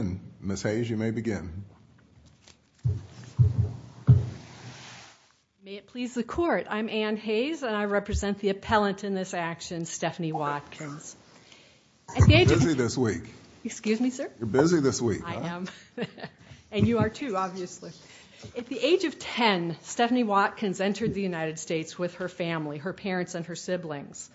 you may begin. May it please the court, I'm Ann Hayes and I represent the appellant in this action, Stephanie Watkins. Busy this week. Excuse me, sir? You're busy this week. And you are too, obviously. At the age of 10, Stephanie Watkins entered the United States with her family, her parents and her siblings.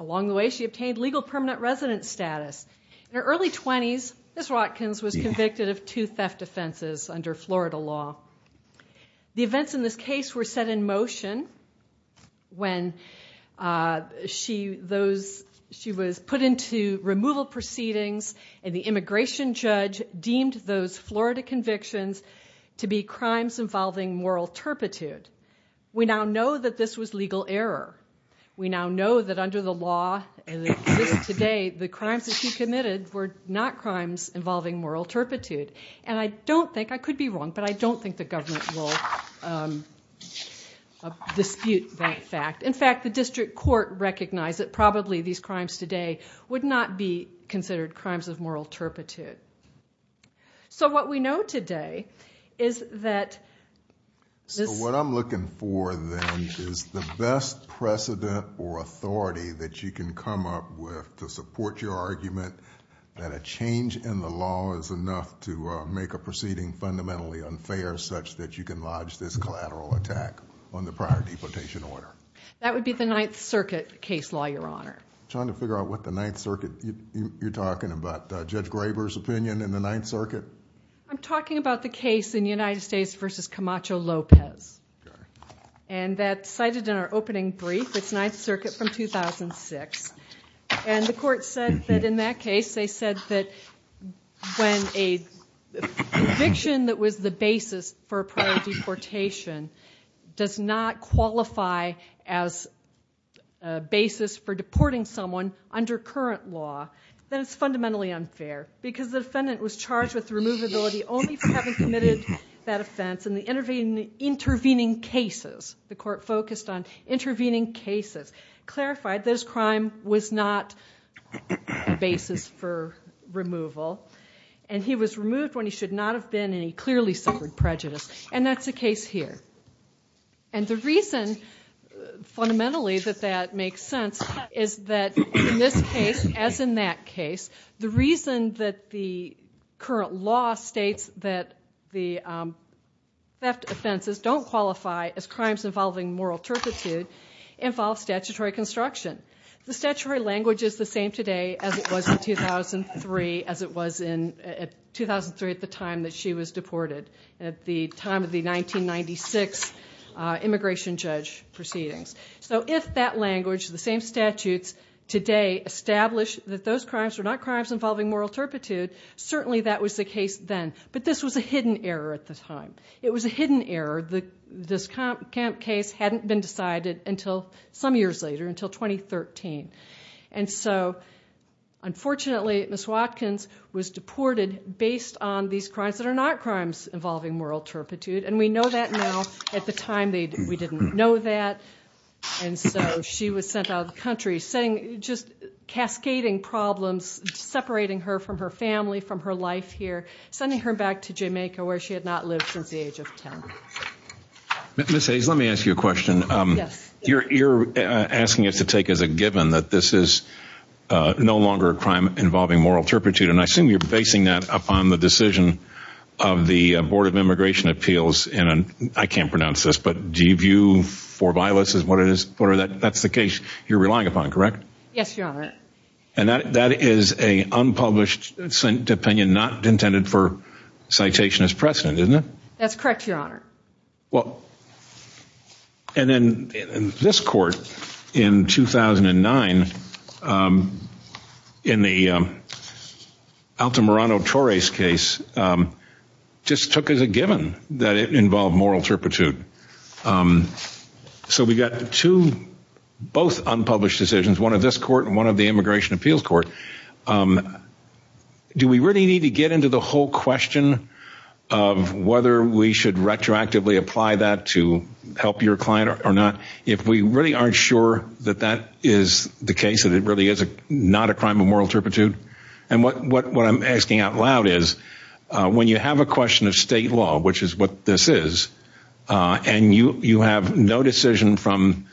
Along the way, she obtained legal permanent residence status. In her early 20s, Ms. Watkins was convicted of two theft offenses under Florida law. The events in this case were set in motion when she was put into removal proceedings and the immigration judge deemed those Florida convictions to be crimes involving moral turpitude. We now know that this was legal error. We now know that under the law as it exists today, the crimes that she committed were not crimes involving moral turpitude. And I don't think, I could be wrong, but I don't think the government will dispute that fact. In fact, the district court recognized that probably these crimes today would not be considered crimes of moral turpitude. So what we know today is that... To support your argument, that a change in the law is enough to make a proceeding fundamentally unfair such that you can lodge this collateral attack on the prior deportation order. That would be the Ninth Circuit case law, Your Honor. I'm trying to figure out what the Ninth Circuit... You're talking about Judge Graber's opinion in the Ninth Circuit? I'm talking about the case in United States v. Camacho Lopez. And that's cited in our case. And the court said that in that case, they said that when a conviction that was the basis for a prior deportation does not qualify as a basis for deporting someone under current law, then it's fundamentally unfair because the defendant was charged with removability only for having committed that offense. And the intervening cases, the court focused on was not a basis for removal. And he was removed when he should not have been and he clearly suffered prejudice. And that's the case here. And the reason, fundamentally, that that makes sense is that in this case, as in that case, the reason that the current law states that the theft offenses don't qualify as crimes involving moral turpitude involve statutory construction. The statutory language is the same today as it was in 2003, as it was in 2003 at the time that she was deported, at the time of the 1996 immigration judge proceedings. So if that language, the same statutes, today establish that those crimes were not crimes involving moral turpitude, certainly that was the case then. But this was a hidden error at the time. It was a hidden error. This camp case hadn't been decided until some years later, until 2013. And so, unfortunately, Ms. Watkins was deported based on these crimes that are not crimes involving moral turpitude. And we know that now. At the time, we didn't know that. And so she was sent out of the camp here, sending her back to Jamaica, where she had not lived since the age of 10. Ms. Hayes, let me ask you a question. Yes. You're asking us to take as a given that this is no longer a crime involving moral turpitude. And I assume you're basing that upon the decision of the Board of Immigration Appeals, and I can't pronounce this, but do you view for violence as what it is? That's the case you're relying upon, correct? Yes, Your Honor. And that is an unpublished opinion not intended for citation as precedent, isn't it? That's correct, Your Honor. Well, and then this court in 2009, in the Alto Morano-Torres case, just took as a given that it involved moral turpitude. So we got two, both unpublished decisions, one of this from the Immigration Appeals Court. Do we really need to get into the whole question of whether we should retroactively apply that to help your client or not, if we really aren't sure that that is the case, that it really is not a crime of moral turpitude? And what I'm asking out loud is, when you have a question of state law, which is what this is, and you have no decision from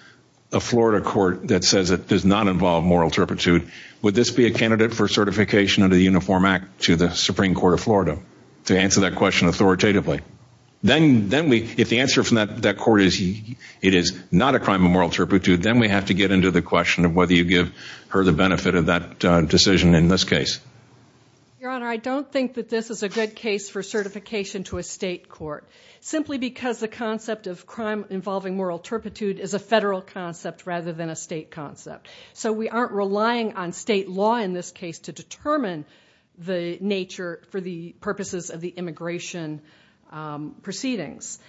a Florida court that says it does not involve moral turpitude, would this be a candidate for certification under the Uniform Act to the Supreme Court of Florida to answer that question authoritatively? Then we, if the answer from that court is it is not a crime of moral turpitude, then we have to get into the question of whether you give her the benefit of that decision in this case. Your Honor, I don't think that this is a good case for certification to a state court, simply because the concept of crime involving moral turpitude is a federal concept rather than a state concept. So we aren't relying on state law in this case to determine the nature for the purposes of the immigration proceedings.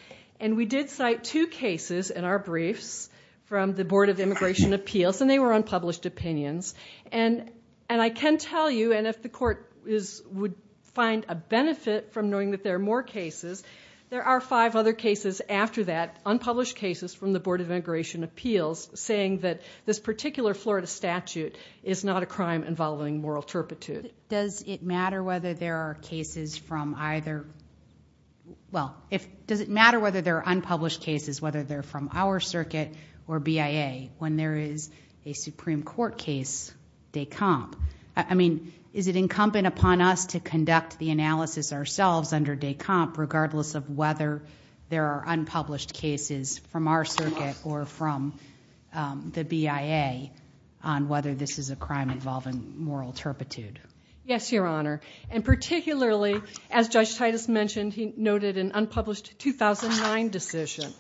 And we did cite two cases in our briefs from the Board of Immigration Appeals, and they were unpublished opinions. And I can tell you, and if the court would find a benefit from knowing that there are more cases, there are five other cases after that, unpublished cases from the Board of Immigration Appeals, saying that this particular Florida statute is not a crime involving moral turpitude. Does it matter whether there are cases from either, well, does it matter whether there are unpublished cases, whether they're from our circuit or BIA, when there is a Supreme Court case, DECOMP? I mean, is it incumbent upon us to conduct the analysis ourselves under DECOMP, regardless of whether there are unpublished cases from our circuit or from the BIA on whether this is a crime involving moral turpitude? Yes, Your Honor. And particularly, as Judge Titus mentioned, he noted an unpublished 2009 decision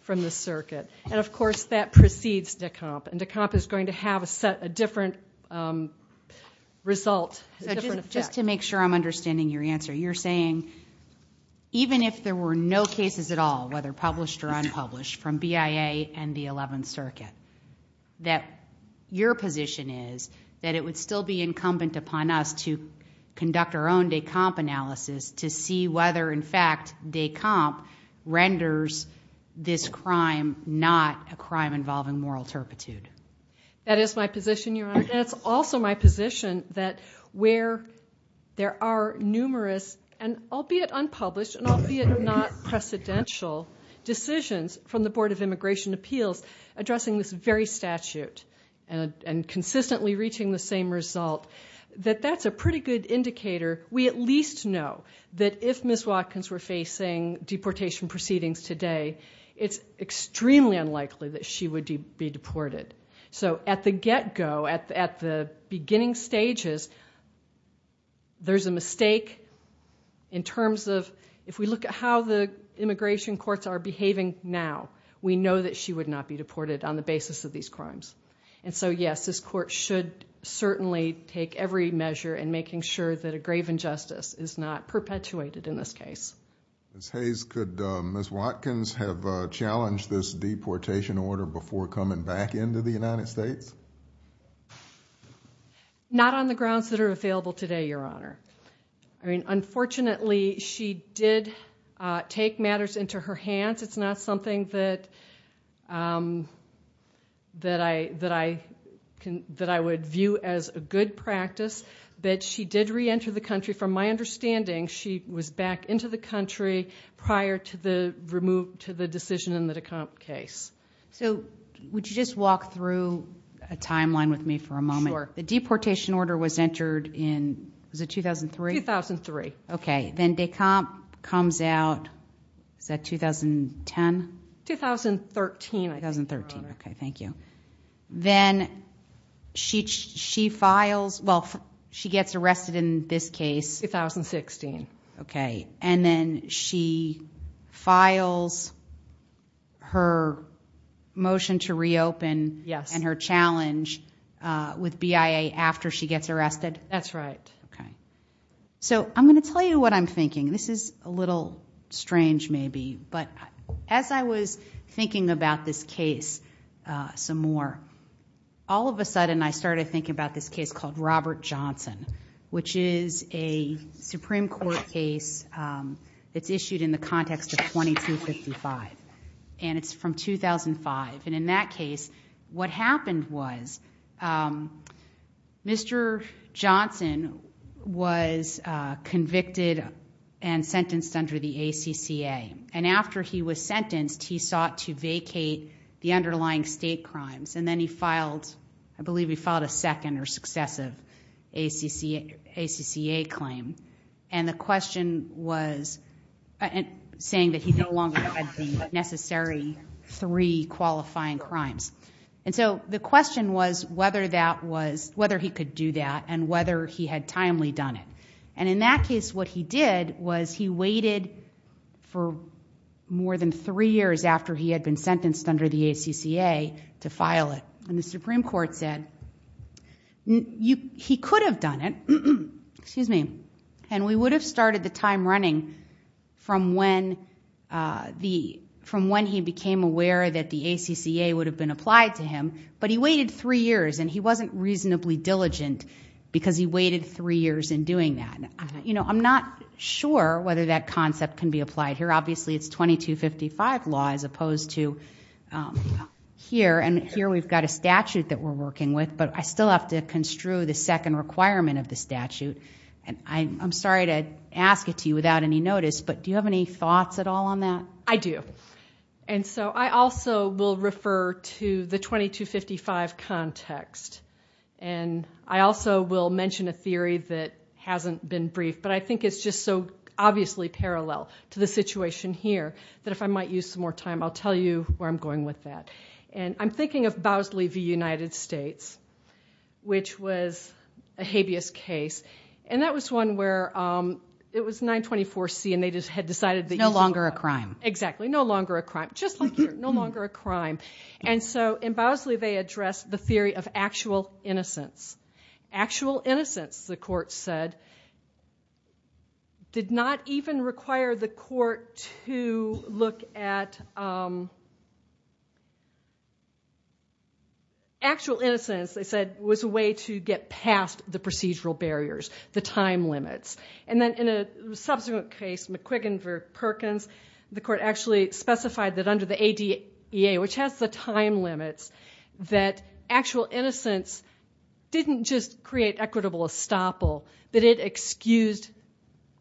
from the circuit. And of course, that precedes DECOMP. And DECOMP is going to have a different result, a different effect. So just to make sure I'm understanding your answer, you're saying even if there were no cases at all, whether published or unpublished, from BIA and the 11th Circuit, that your position is that it would still be incumbent upon us to conduct our own DECOMP analysis to see whether, in fact, DECOMP renders this crime not a crime involving moral turpitude? That is my position, Your Honor. And it's also my position that where there are numerous, and albeit unpublished and albeit not precedential, decisions from the Board of Immigration Appeals addressing this very statute and consistently reaching the same result, that that's a pretty good indicator we at least know that if Ms. Watkins were facing deportation proceedings today, it's extremely unlikely that she would be deported. So at the get-go, at the beginning stages, there's a mistake in terms of if we look at how the immigration courts are behaving now, we know that she would not be deported on the basis of these crimes. And so, yes, this court should certainly take every measure in making sure that a grave injustice is not perpetuated in this case. Ms. Hayes, could Ms. Watkins have challenged this deportation order before coming back into the United States? Not on the grounds that are available today, Your Honor. I mean, unfortunately, she did take matters into her hands. It's not something that I would view as a good practice. But she did re-enter the country. From my understanding, she was back into the country prior to the decision in the Descamps case. So would you just walk through a timeline with me for a moment? Sure. The deportation order was entered in, was it 2003? 2003. Okay. Then Descamps comes out, is that 2010? 2013, I think, Your Honor. Okay, thank you. Then she files, well, she gets arrested in this case. 2016. Okay. And then she files her motion to reopen and her challenge with BIA after she gets arrested? That's right. Okay. So I'm going to tell you what I'm thinking. This is a little strange maybe, but as I was thinking about this case some more, all of a sudden I started thinking about this case called Robert Johnson, which is a Supreme Court case that's issued in the context of was convicted and sentenced under the ACCA. And after he was sentenced, he sought to vacate the underlying state crimes. And then he filed, I believe he filed a second or successive ACCA claim. And the question was, saying that he no longer had the necessary three qualifying crimes. And so the question was whether he could do that and whether he had timely done it. And in that case, what he did was he waited for more than three years after he had been sentenced under the ACCA to file it. And the Supreme Court said, he could have done it, and we would have been applied to him, but he waited three years and he wasn't reasonably diligent because he waited three years in doing that. And I'm not sure whether that concept can be applied here. Obviously it's 2255 law as opposed to here. And here we've got a statute that we're working with, but I still have to construe the second requirement of the statute. And I'm sorry to ask it to you without any notice, but do you have any thoughts at all on that? I do. And so I also will refer to the 2255 context. And I also will mention a theory that hasn't been briefed, but I think it's just so obviously parallel to the situation here, that if I might use some more time, I'll tell you where I'm going with that. And I'm thinking of Bosley v. United States, which was a habeas case. And that was one where it was 924C and they just had decided that- No longer a crime. Exactly. No longer a crime. Just like here. No longer a crime. And so in Bosley they addressed the theory of actual innocence. Actual innocence, the court said, did not even require the court to look at- actual innocence, they said, was a way to get past the procedural barriers, the time limits. And then in a subsequent case, McQuiggan v. Perkins, the court actually specified that under the ADEA, which has the time limits, that actual innocence didn't just create equitable estoppel, but it excused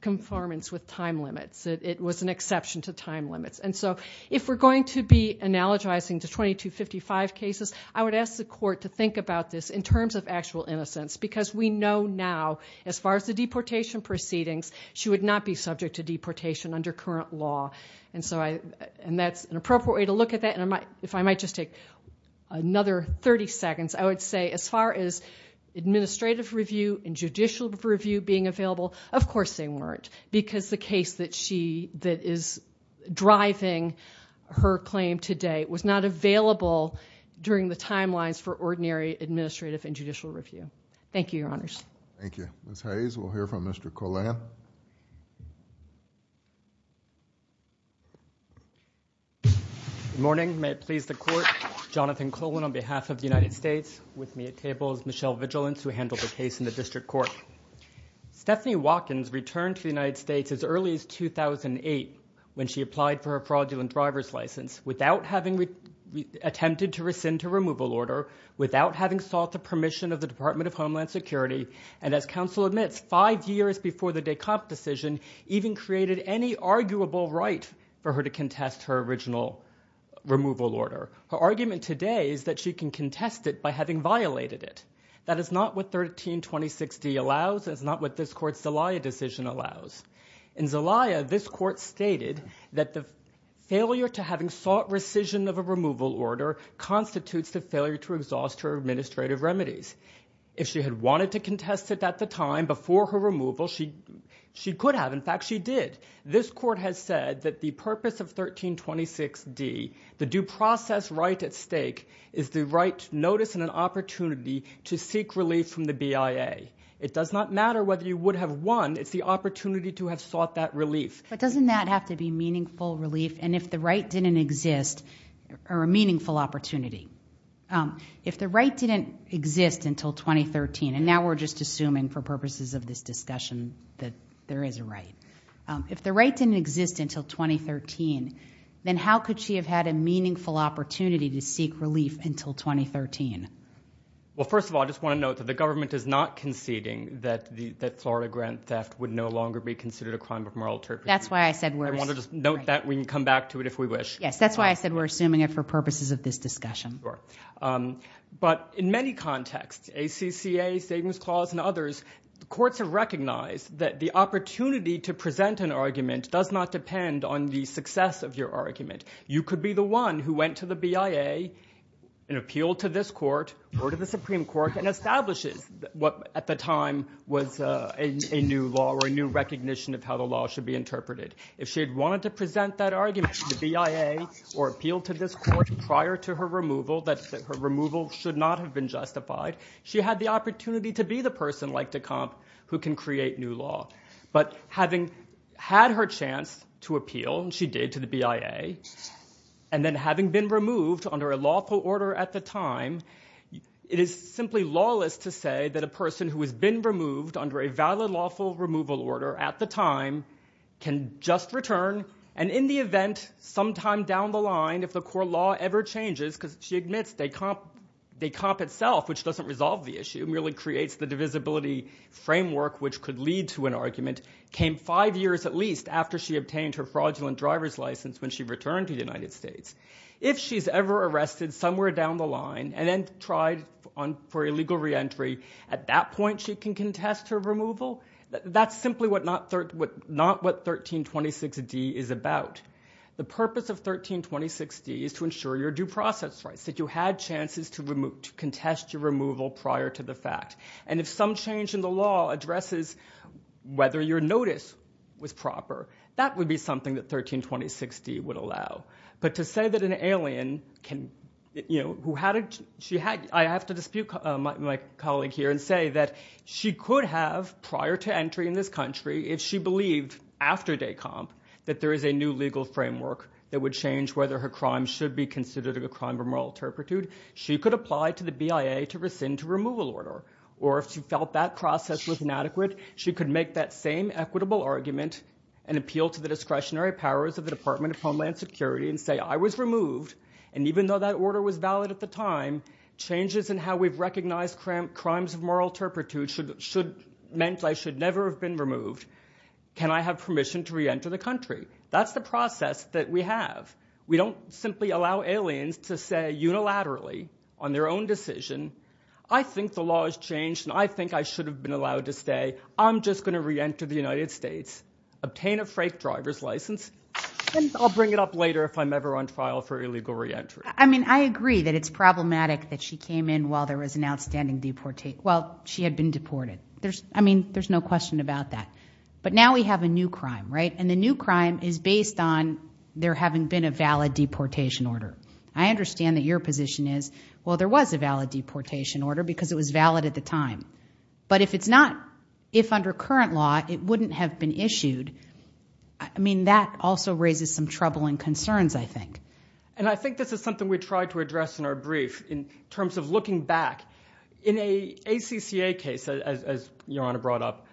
conformance with time limits. It was an exception to time limits. And so if we're going to be analogizing to 2255 cases, I would ask the deportation proceedings, she would not be subject to deportation under current law. And that's an appropriate way to look at that. And if I might just take another 30 seconds, I would say as far as administrative review and judicial review being available, of course they weren't. Because the case that is driving her claim today was not available during the hearing. Thank you. Ms. Hayes, we'll hear from Mr. Colan. Good morning. May it please the court, Jonathan Colan on behalf of the United States. With me at table is Michelle Vigilance who handled the case in the district court. Stephanie Watkins returned to the United States as early as 2008 when she applied for her fraudulent driver's license without having attempted to rescind her removal order, without having sought the permission of the Department of Homeland Security, and as counsel admits, five years before the DECOMP decision even created any arguable right for her to contest her original removal order. Her argument today is that she can contest it by having violated it. That is not what 1326D allows. That is not what this court's Zelaya decision allows. In Zelaya, this court stated that the failure to having sought rescission of a removal order constitutes the failure to exhaust her administrative remedies. If she had wanted to contest it at the time before her removal, she could have. In fact, she did. This court has said that the purpose of 1326D, the due process right at stake, is the right notice and an opportunity to seek relief from the BIA. It does not matter whether you would have won. It's the opportunity to have sought that relief. But doesn't that have to be meaningful relief? And if the right didn't exist, or a meaningful opportunity, if the right didn't exist until 2013, and now we're just assuming for purposes of this discussion that there is a right, if the right didn't exist until 2013, then how could she have had a meaningful opportunity to seek relief until 2013? Well, first of all, I just want to note that the government is not conceding that Florida grant theft would no longer be considered a crime of moral turpitude. That's why I said we're... I want to just note that. We can come back to it if we wish. Yes, that's why I said we're assuming it for purposes of this discussion. Sure. But in many contexts, ACCA, Savings Clause, and others, courts have recognized that the opportunity to present an argument does not depend on the success of your argument. You could be the one who went to the BIA and appealed to this court or to the Supreme Court and establishes what at the time was a new law or a new recognition of how the law should be interpreted. If she had wanted to present that argument to the BIA or appeal to this court prior to her removal, that her removal should not have been justified, she had the opportunity to be the person, like Decomp, who can create new law. But having had her chance to appeal, and she did to the BIA, and then having been removed under a lawful order at the time, it is simply lawless to say that a person who has been removed can just return, and in the event, sometime down the line, if the core law ever changes, because she admits Decomp itself, which doesn't resolve the issue, merely creates the divisibility framework which could lead to an argument, came five years at least after she obtained her fraudulent driver's license when she returned to the United States. If she's ever arrested somewhere down the line and then tried for illegal reentry, at that point she can contest her removal. That's simply not what 1326D is about. The purpose of 1326D is to ensure your due process rights, that you had chances to contest your removal prior to the fact. And if some change in the law addresses whether your notice was proper, that would be something that 1326D would allow. But to say that an alien, I have to dispute my colleague here and say that she could have, prior to entry in this country, if she believed after Decomp that there is a new legal framework that would change whether her crime should be considered a crime of moral turpitude, she could apply to the BIA to rescind her removal order. Or if she felt that process was inadequate, she could make that same equitable argument and appeal to the discretionary powers of the Department of Homeland Security and say I was removed and even though that order was valid at the time, changes in how we've recognized crimes of moral turpitude meant I should never have been removed. Can I have permission to reenter the country? That's the process that we have. We don't simply allow aliens to say unilaterally on their own decision, I think the law has changed and I think I should have been allowed to say I'm just going to reenter the United States, obtain a freight driver's license, and I'll bring it up later if I'm ever on trial for illegal reentry. I mean, I agree that it's problematic that she came in while there was an outstanding deportation, well, she had been deported. I mean, there's no question about that. But now we have a new crime, right? And the new crime is based on there having been a valid deportation order. I understand that your position is, well, there was a valid deportation order because it was valid at the time. But if it's not, if under current law, it wouldn't have been issued, I mean, that also raises some troubling concerns, I think. And I think this is something we tried to address in our brief in terms of looking back. In an ACCA case, as Your Honor brought up,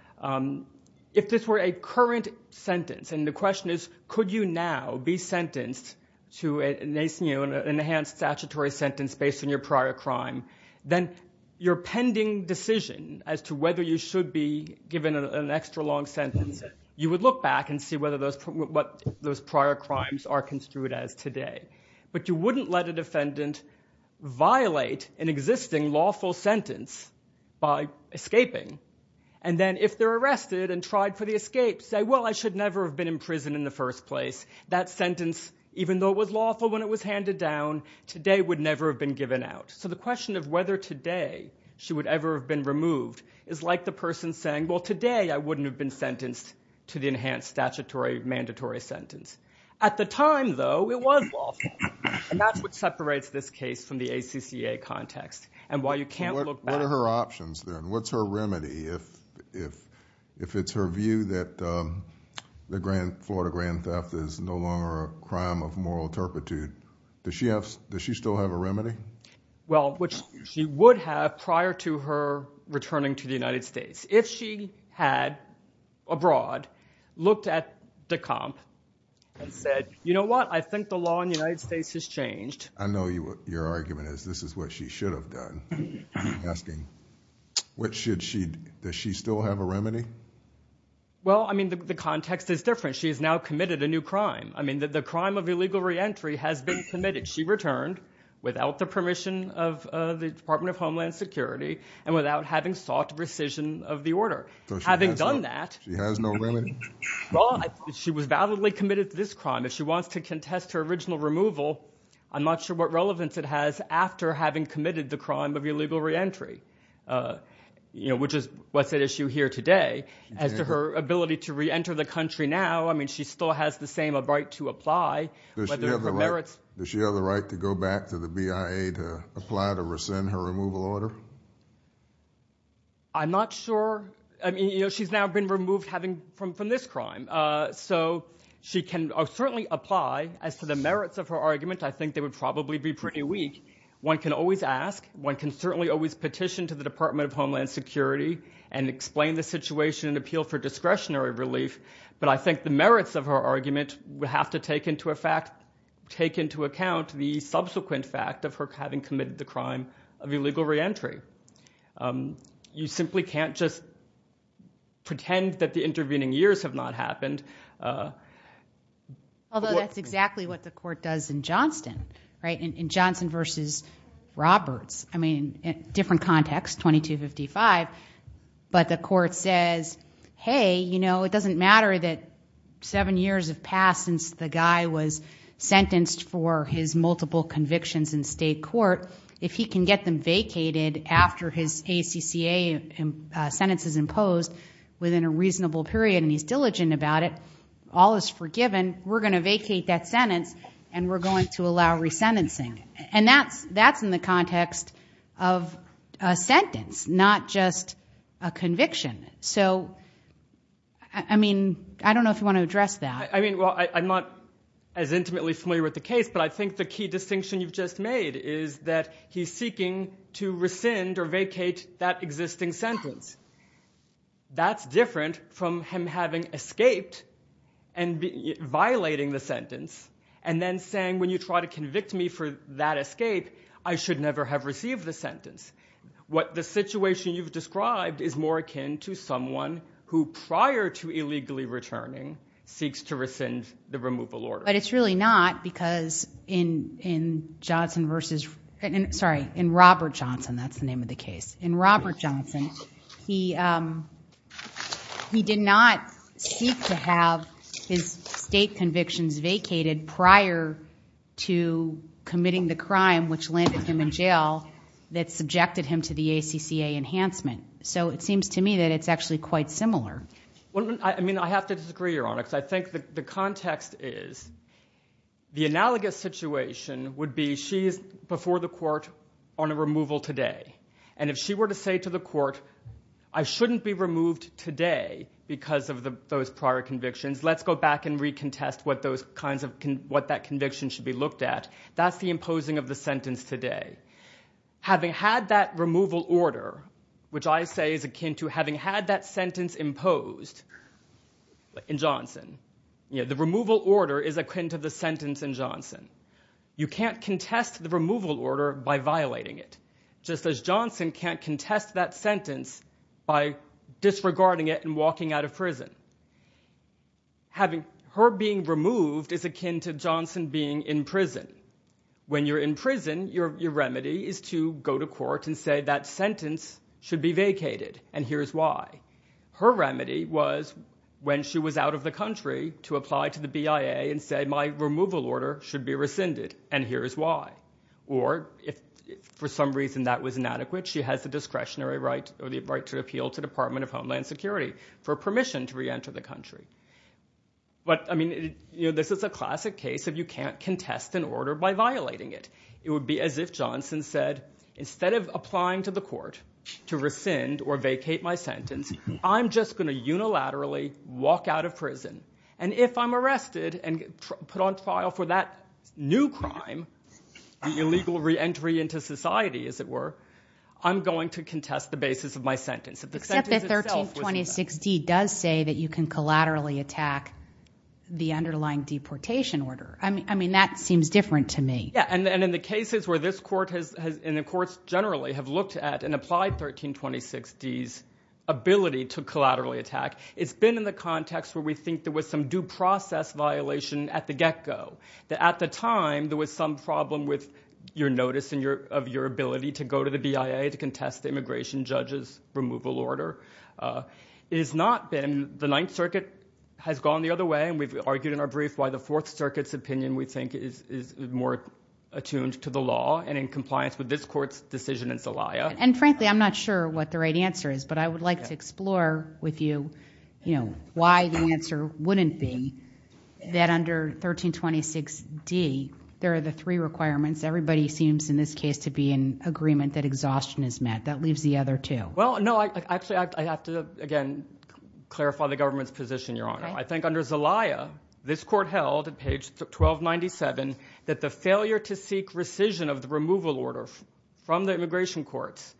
if this were a current sentence, and the question is, could you now be sentenced to an enhanced statutory sentence based on your prior crime, then your pending decision as to whether you should be given an extra long sentence, you would look back and see what those prior crimes are construed as today. But you wouldn't let a defendant violate an existing lawful sentence by escaping. And then if they're arrested and tried for the escape, say, well, I should never have been in prison in the first place. That sentence, even though it was lawful when it was handed down, today would never have been given out. So the question of whether today she would ever have been removed is like the person saying, well, today I wouldn't have been sentenced to the enhanced statutory mandatory sentence. At the time, though, it was lawful. And that's what separates this case from the ACCA context. And while you can't look back... What are her options then? What's her remedy? If it's her view that the Florida grand theft is no longer a crime of moral turpitude, does she still have a remedy? Well, which she would have prior to her returning to the United States. If she had, abroad, looked at the comp and said, you know what? I think the law in the United States has changed. I know your argument is this is what she should have done. Asking, does she still have a remedy? Well, I mean, the context is different. She has now committed a new crime. I mean, the crime of illegal reentry has been committed. She returned without the permission of the Department of Homeland Security and without having sought rescission of the order. So she has no remedy? Well, she was validly committed to this crime. If she wants to contest her original removal, I'm not sure what relevance it has after having committed the crime of illegal reentry, you know, which is what's at issue here today. As to her ability to reenter the country now, I mean, she still has the same right to apply. Does she have the right to go back to the BIA to apply to rescind her removal order? I'm not sure. I mean, you know, she's now been removed from this crime. So she can certainly apply. As to the merits of her argument, I think they would probably be pretty weak. One can always ask. One can certainly always petition to the Department of Homeland Security and explain the situation and appeal for discretionary relief. But I think the merits of her argument would have to take into account the subsequent fact of her having committed the crime of illegal reentry. You simply can't just pretend that the intervening years have not happened. Although that's exactly what the court does in Johnston, right? In Johnston versus Roberts. I mean, different context, 2255. But the court says, hey, you know, it doesn't matter that seven years have passed since the guy was sentenced for his multiple convictions in state court. If he can get them vacated after his ACCA sentence is imposed within a reasonable period and he's diligent about it, all is forgiven, we're going to vacate that sentence and we're going to allow resentencing. And that's in the context of a sentence, not just a conviction. So, I mean, I don't know if you want to address that. I mean, well, I'm not as intimately familiar with the case, but I think the key distinction you've just made is that he's seeking to rescind or vacate that existing sentence. That's different from him having escaped and violating the sentence and then saying, when you try to convict me for that escape, I should never have received the sentence. What the situation you've described is more akin to someone who prior to illegally returning seeks to rescind the removal order. But it's really not because in Johnston versus, sorry, in Robert Johnston, that's the name of the case. In Robert Johnston, he did not seek to have his state convictions vacated prior to committing the crime which landed him in jail that subjected him to the ACCA enhancement. So it seems to me that it's actually quite similar. I mean, I have to disagree, Your Honor, because I think the context is The analogous situation would be she's before the court on a removal today. And if she were to say to the court, I shouldn't be removed today because of those prior convictions. Let's go back and recontest what that conviction should be looked at. That's the imposing of the sentence today. Having had that removal order, which I say is akin to having had that sentence imposed in Johnston, the removal order is akin to the sentence in Johnston. You can't contest the removal order by violating it, just as Johnston can't contest that sentence by disregarding it and walking out of prison. Her being removed is akin to Johnston being in prison. When you're in prison, your remedy is to go to court and say that sentence should be vacated, and here's why. Her remedy was when she was out of the country to apply to the BIA and say my removal order should be rescinded, and here's why. Or if for some reason that was inadequate, she has the discretionary right or the right to appeal to the Department of Homeland Security for permission to reenter the country. But, I mean, this is a classic case of you can't contest an order by violating it. It would be as if Johnston said, instead of applying to the court to rescind or vacate my sentence, I'm just going to unilaterally walk out of prison. And if I'm arrested and put on trial for that new crime, the illegal reentry into society, as it were, I'm going to contest the basis of my sentence. Except that 1326D does say that you can collaterally attack the underlying deportation order. I mean, that seems different to me. Yeah, and in the cases where this court and the courts generally have looked at an applied 1326D's ability to collaterally attack, it's been in the context where we think there was some due process violation at the get-go. At the time, there was some problem with your notice of your ability to go to the BIA to contest the immigration judge's removal order. It has not been. The Ninth Circuit has gone the other way, and we've argued in our brief why the Fourth Circuit's opinion, we think, is more attuned to the law and in compliance with this court's decision in Zelaya. And frankly, I'm not sure what the right answer is, but I would like to explore with you why the answer wouldn't be that under 1326D there are the three requirements. Everybody seems in this case to be in agreement that exhaustion is met. That leaves the other two. Well, no, actually I have to, again, clarify the government's position, Your Honor. I think under Zelaya, this court held at page 1297 that the failure to seek rescission of the removal order from the immigration courts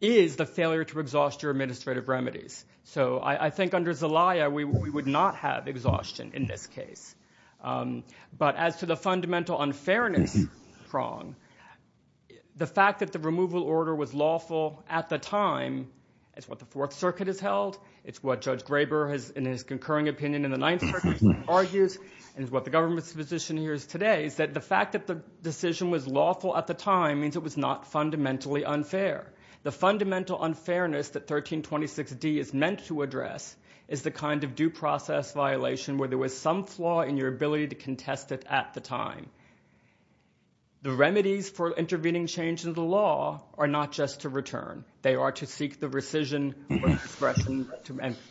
is the failure to exhaust your administrative remedies. So I think under Zelaya we would not have exhaustion in this case. But as to the fundamental unfairness prong, the fact that the removal order was lawful at the time is what the Fourth Circuit has held. It's what Judge Graber, in his concurring opinion in the Ninth Circuit, argues, and it's what the government's position here is today, is that the fact that the decision was lawful at the time means it was not fundamentally unfair. The fundamental unfairness that 1326D is meant to address is the kind of due process violation where there was some flaw in your ability to contest it at the time. The remedies for intervening change in the law are not just to return. They are to seek the rescission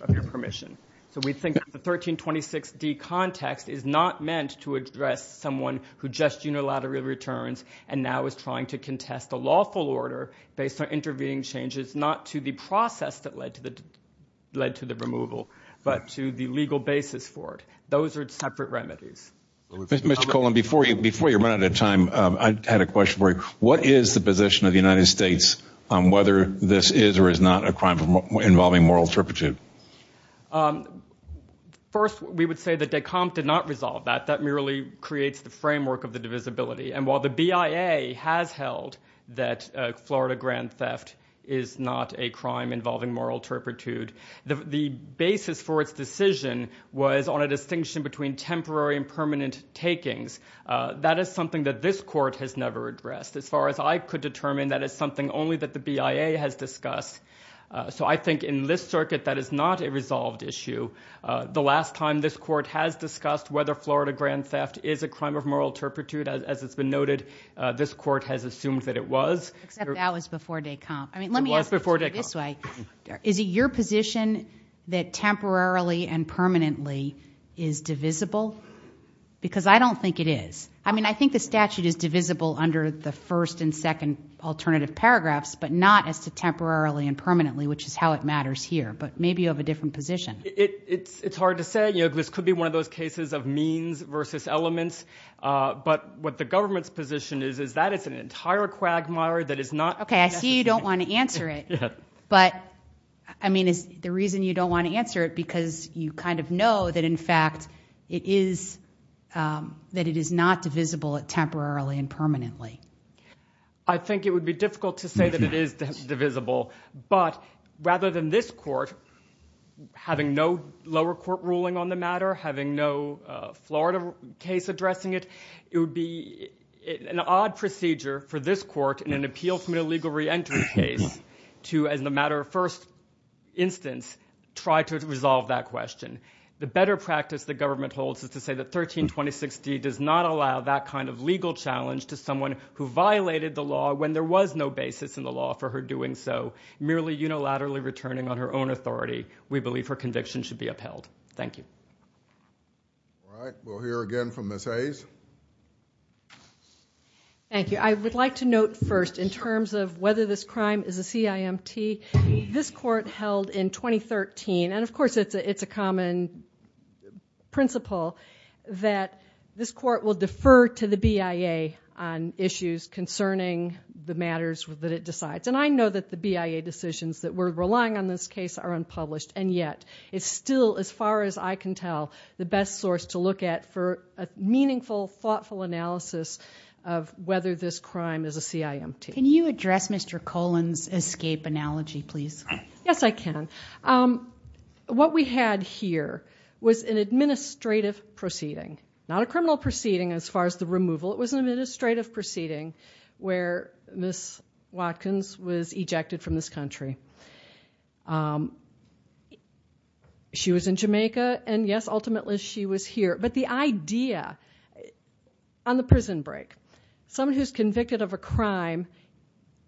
of your permission. So we think that the 1326D context is not meant to address someone who just unilaterally returns and now is trying to contest a lawful order based on intervening changes, not to the process that led to the removal, but to the legal basis for it. Those are separate remedies. Mr. Colon, before you run out of time, I had a question for you. What is the position of the United States on whether this is or is not a crime involving moral turpitude? First, we would say that Descamps did not resolve that. That merely creates the framework of the divisibility. And while the BIA has held that Florida grand theft is not a crime involving moral turpitude, the basis for its decision was on a distinction between temporary and permanent takings. That is something that this court has never addressed. As far as I could determine, that is something only that the BIA has discussed. So I think in this circuit, that is not a resolved issue. The last time this court has discussed whether Florida grand theft is a crime of moral turpitude, as has been noted, this court has assumed that it was. Except that was before Descamps. It was before Descamps. Let me ask you this way. Is it your position that temporarily and permanently is divisible? Because I don't think it is. I mean, I think the statute is divisible under the first and second alternative paragraphs, but not as to temporarily and permanently, which is how it matters here. But maybe you have a different position. It's hard to say. This could be one of those cases of means versus elements. But what the government's position is, is that it's an entire quagmire that is not. Okay, I see you don't want to answer it. But, I mean, is the reason you don't want to answer it because you kind of know that, in fact, it is not divisible temporarily and permanently. I think it would be difficult to say that it is divisible. But rather than this court having no lower court ruling on the matter, having no Florida case addressing it, it would be an odd procedure for this court in an appeal from an illegal reentry case to, as a matter of first instance, try to resolve that question. The better practice the government holds is to say that 132060 does not allow that kind of legal challenge to someone who violated the law when there was no basis in the law for her doing so, merely unilaterally returning on her own authority. We believe her conviction should be upheld. Thank you. All right. We'll hear again from Ms. Hayes. Thank you. I would like to note first, in terms of whether this crime is a CIMT, this court held in 2013, and, of course, it's a common principle, that this court should refer to the BIA on issues concerning the matters that it decides. And I know that the BIA decisions that were relying on this case are unpublished, and yet it's still, as far as I can tell, the best source to look at for a meaningful, thoughtful analysis of whether this crime is a CIMT. Can you address Mr. Colan's escape analogy, please? Yes, I can. What we had here was an administrative proceeding, not a criminal proceeding, as far as the removal. It was an administrative proceeding where Ms. Watkins was ejected from this country. She was in Jamaica, and, yes, ultimately she was here. But the idea, on the prison break, someone who's convicted of a crime,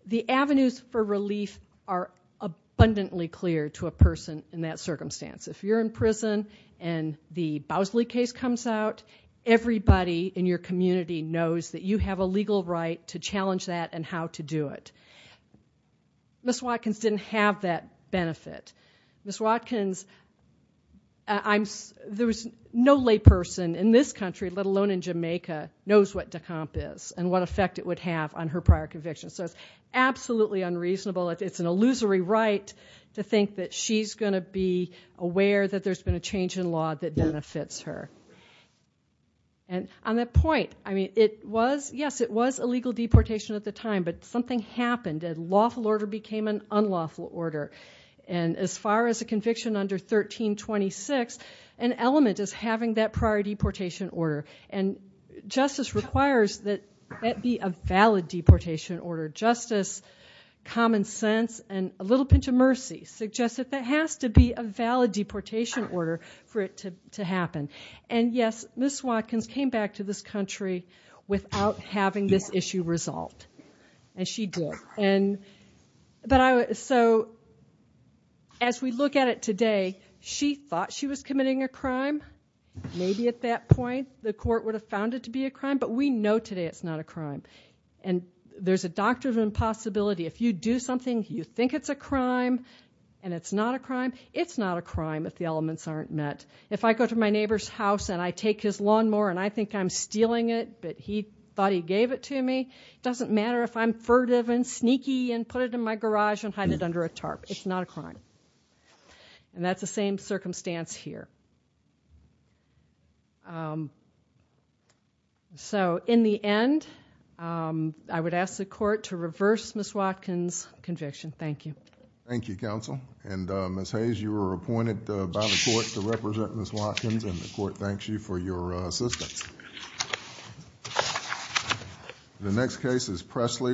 the avenues for relief are abundantly clear to a person in that circumstance. If you're in prison and the Bowsley case comes out, everybody in your community knows that you have a legal right to challenge that and how to do it. Ms. Watkins didn't have that benefit. Ms. Watkins, there was no lay person in this country, let alone in Jamaica, knows what DECOMP is and what effect it would have on her prior convictions. So it's absolutely unreasonable. It's an illusory right to think that she's going to be aware that there's been a change in law that benefits her. And on that point, I mean, it was, yes, it was a legal deportation at the time, but something happened. A lawful order became an unlawful order. And as far as a conviction under 1326, an element is having that prior deportation order. And justice requires that that be a valid deportation order. Justice, common sense, and a little pinch of mercy suggest that that has to be a valid deportation order for it to happen. And, yes, Ms. Watkins came back to this country without having this issue resolved. And she did. And so as we look at it today, she thought she was committing a crime. Maybe at that point the court would have found it to be a crime. But we know today it's not a crime. And there's a doctrine of impossibility. If you do something, you think it's a crime and it's not a crime, it's not a crime if the elements aren't met. If I go to my neighbor's house and I take his lawnmower and I think I'm stealing it but he thought he gave it to me, it doesn't matter if I'm furtive and sneaky and put it in my garage and hide it under a tarp. It's not a crime. And that's the same circumstance here. So in the end, I would ask the court to reverse Ms. Watkins' conviction. Thank you. Thank you, Counsel. And Ms. Hayes, you were appointed by the court to represent Ms. Watkins and the court thanks you for your assistance. The next case is Pressley v.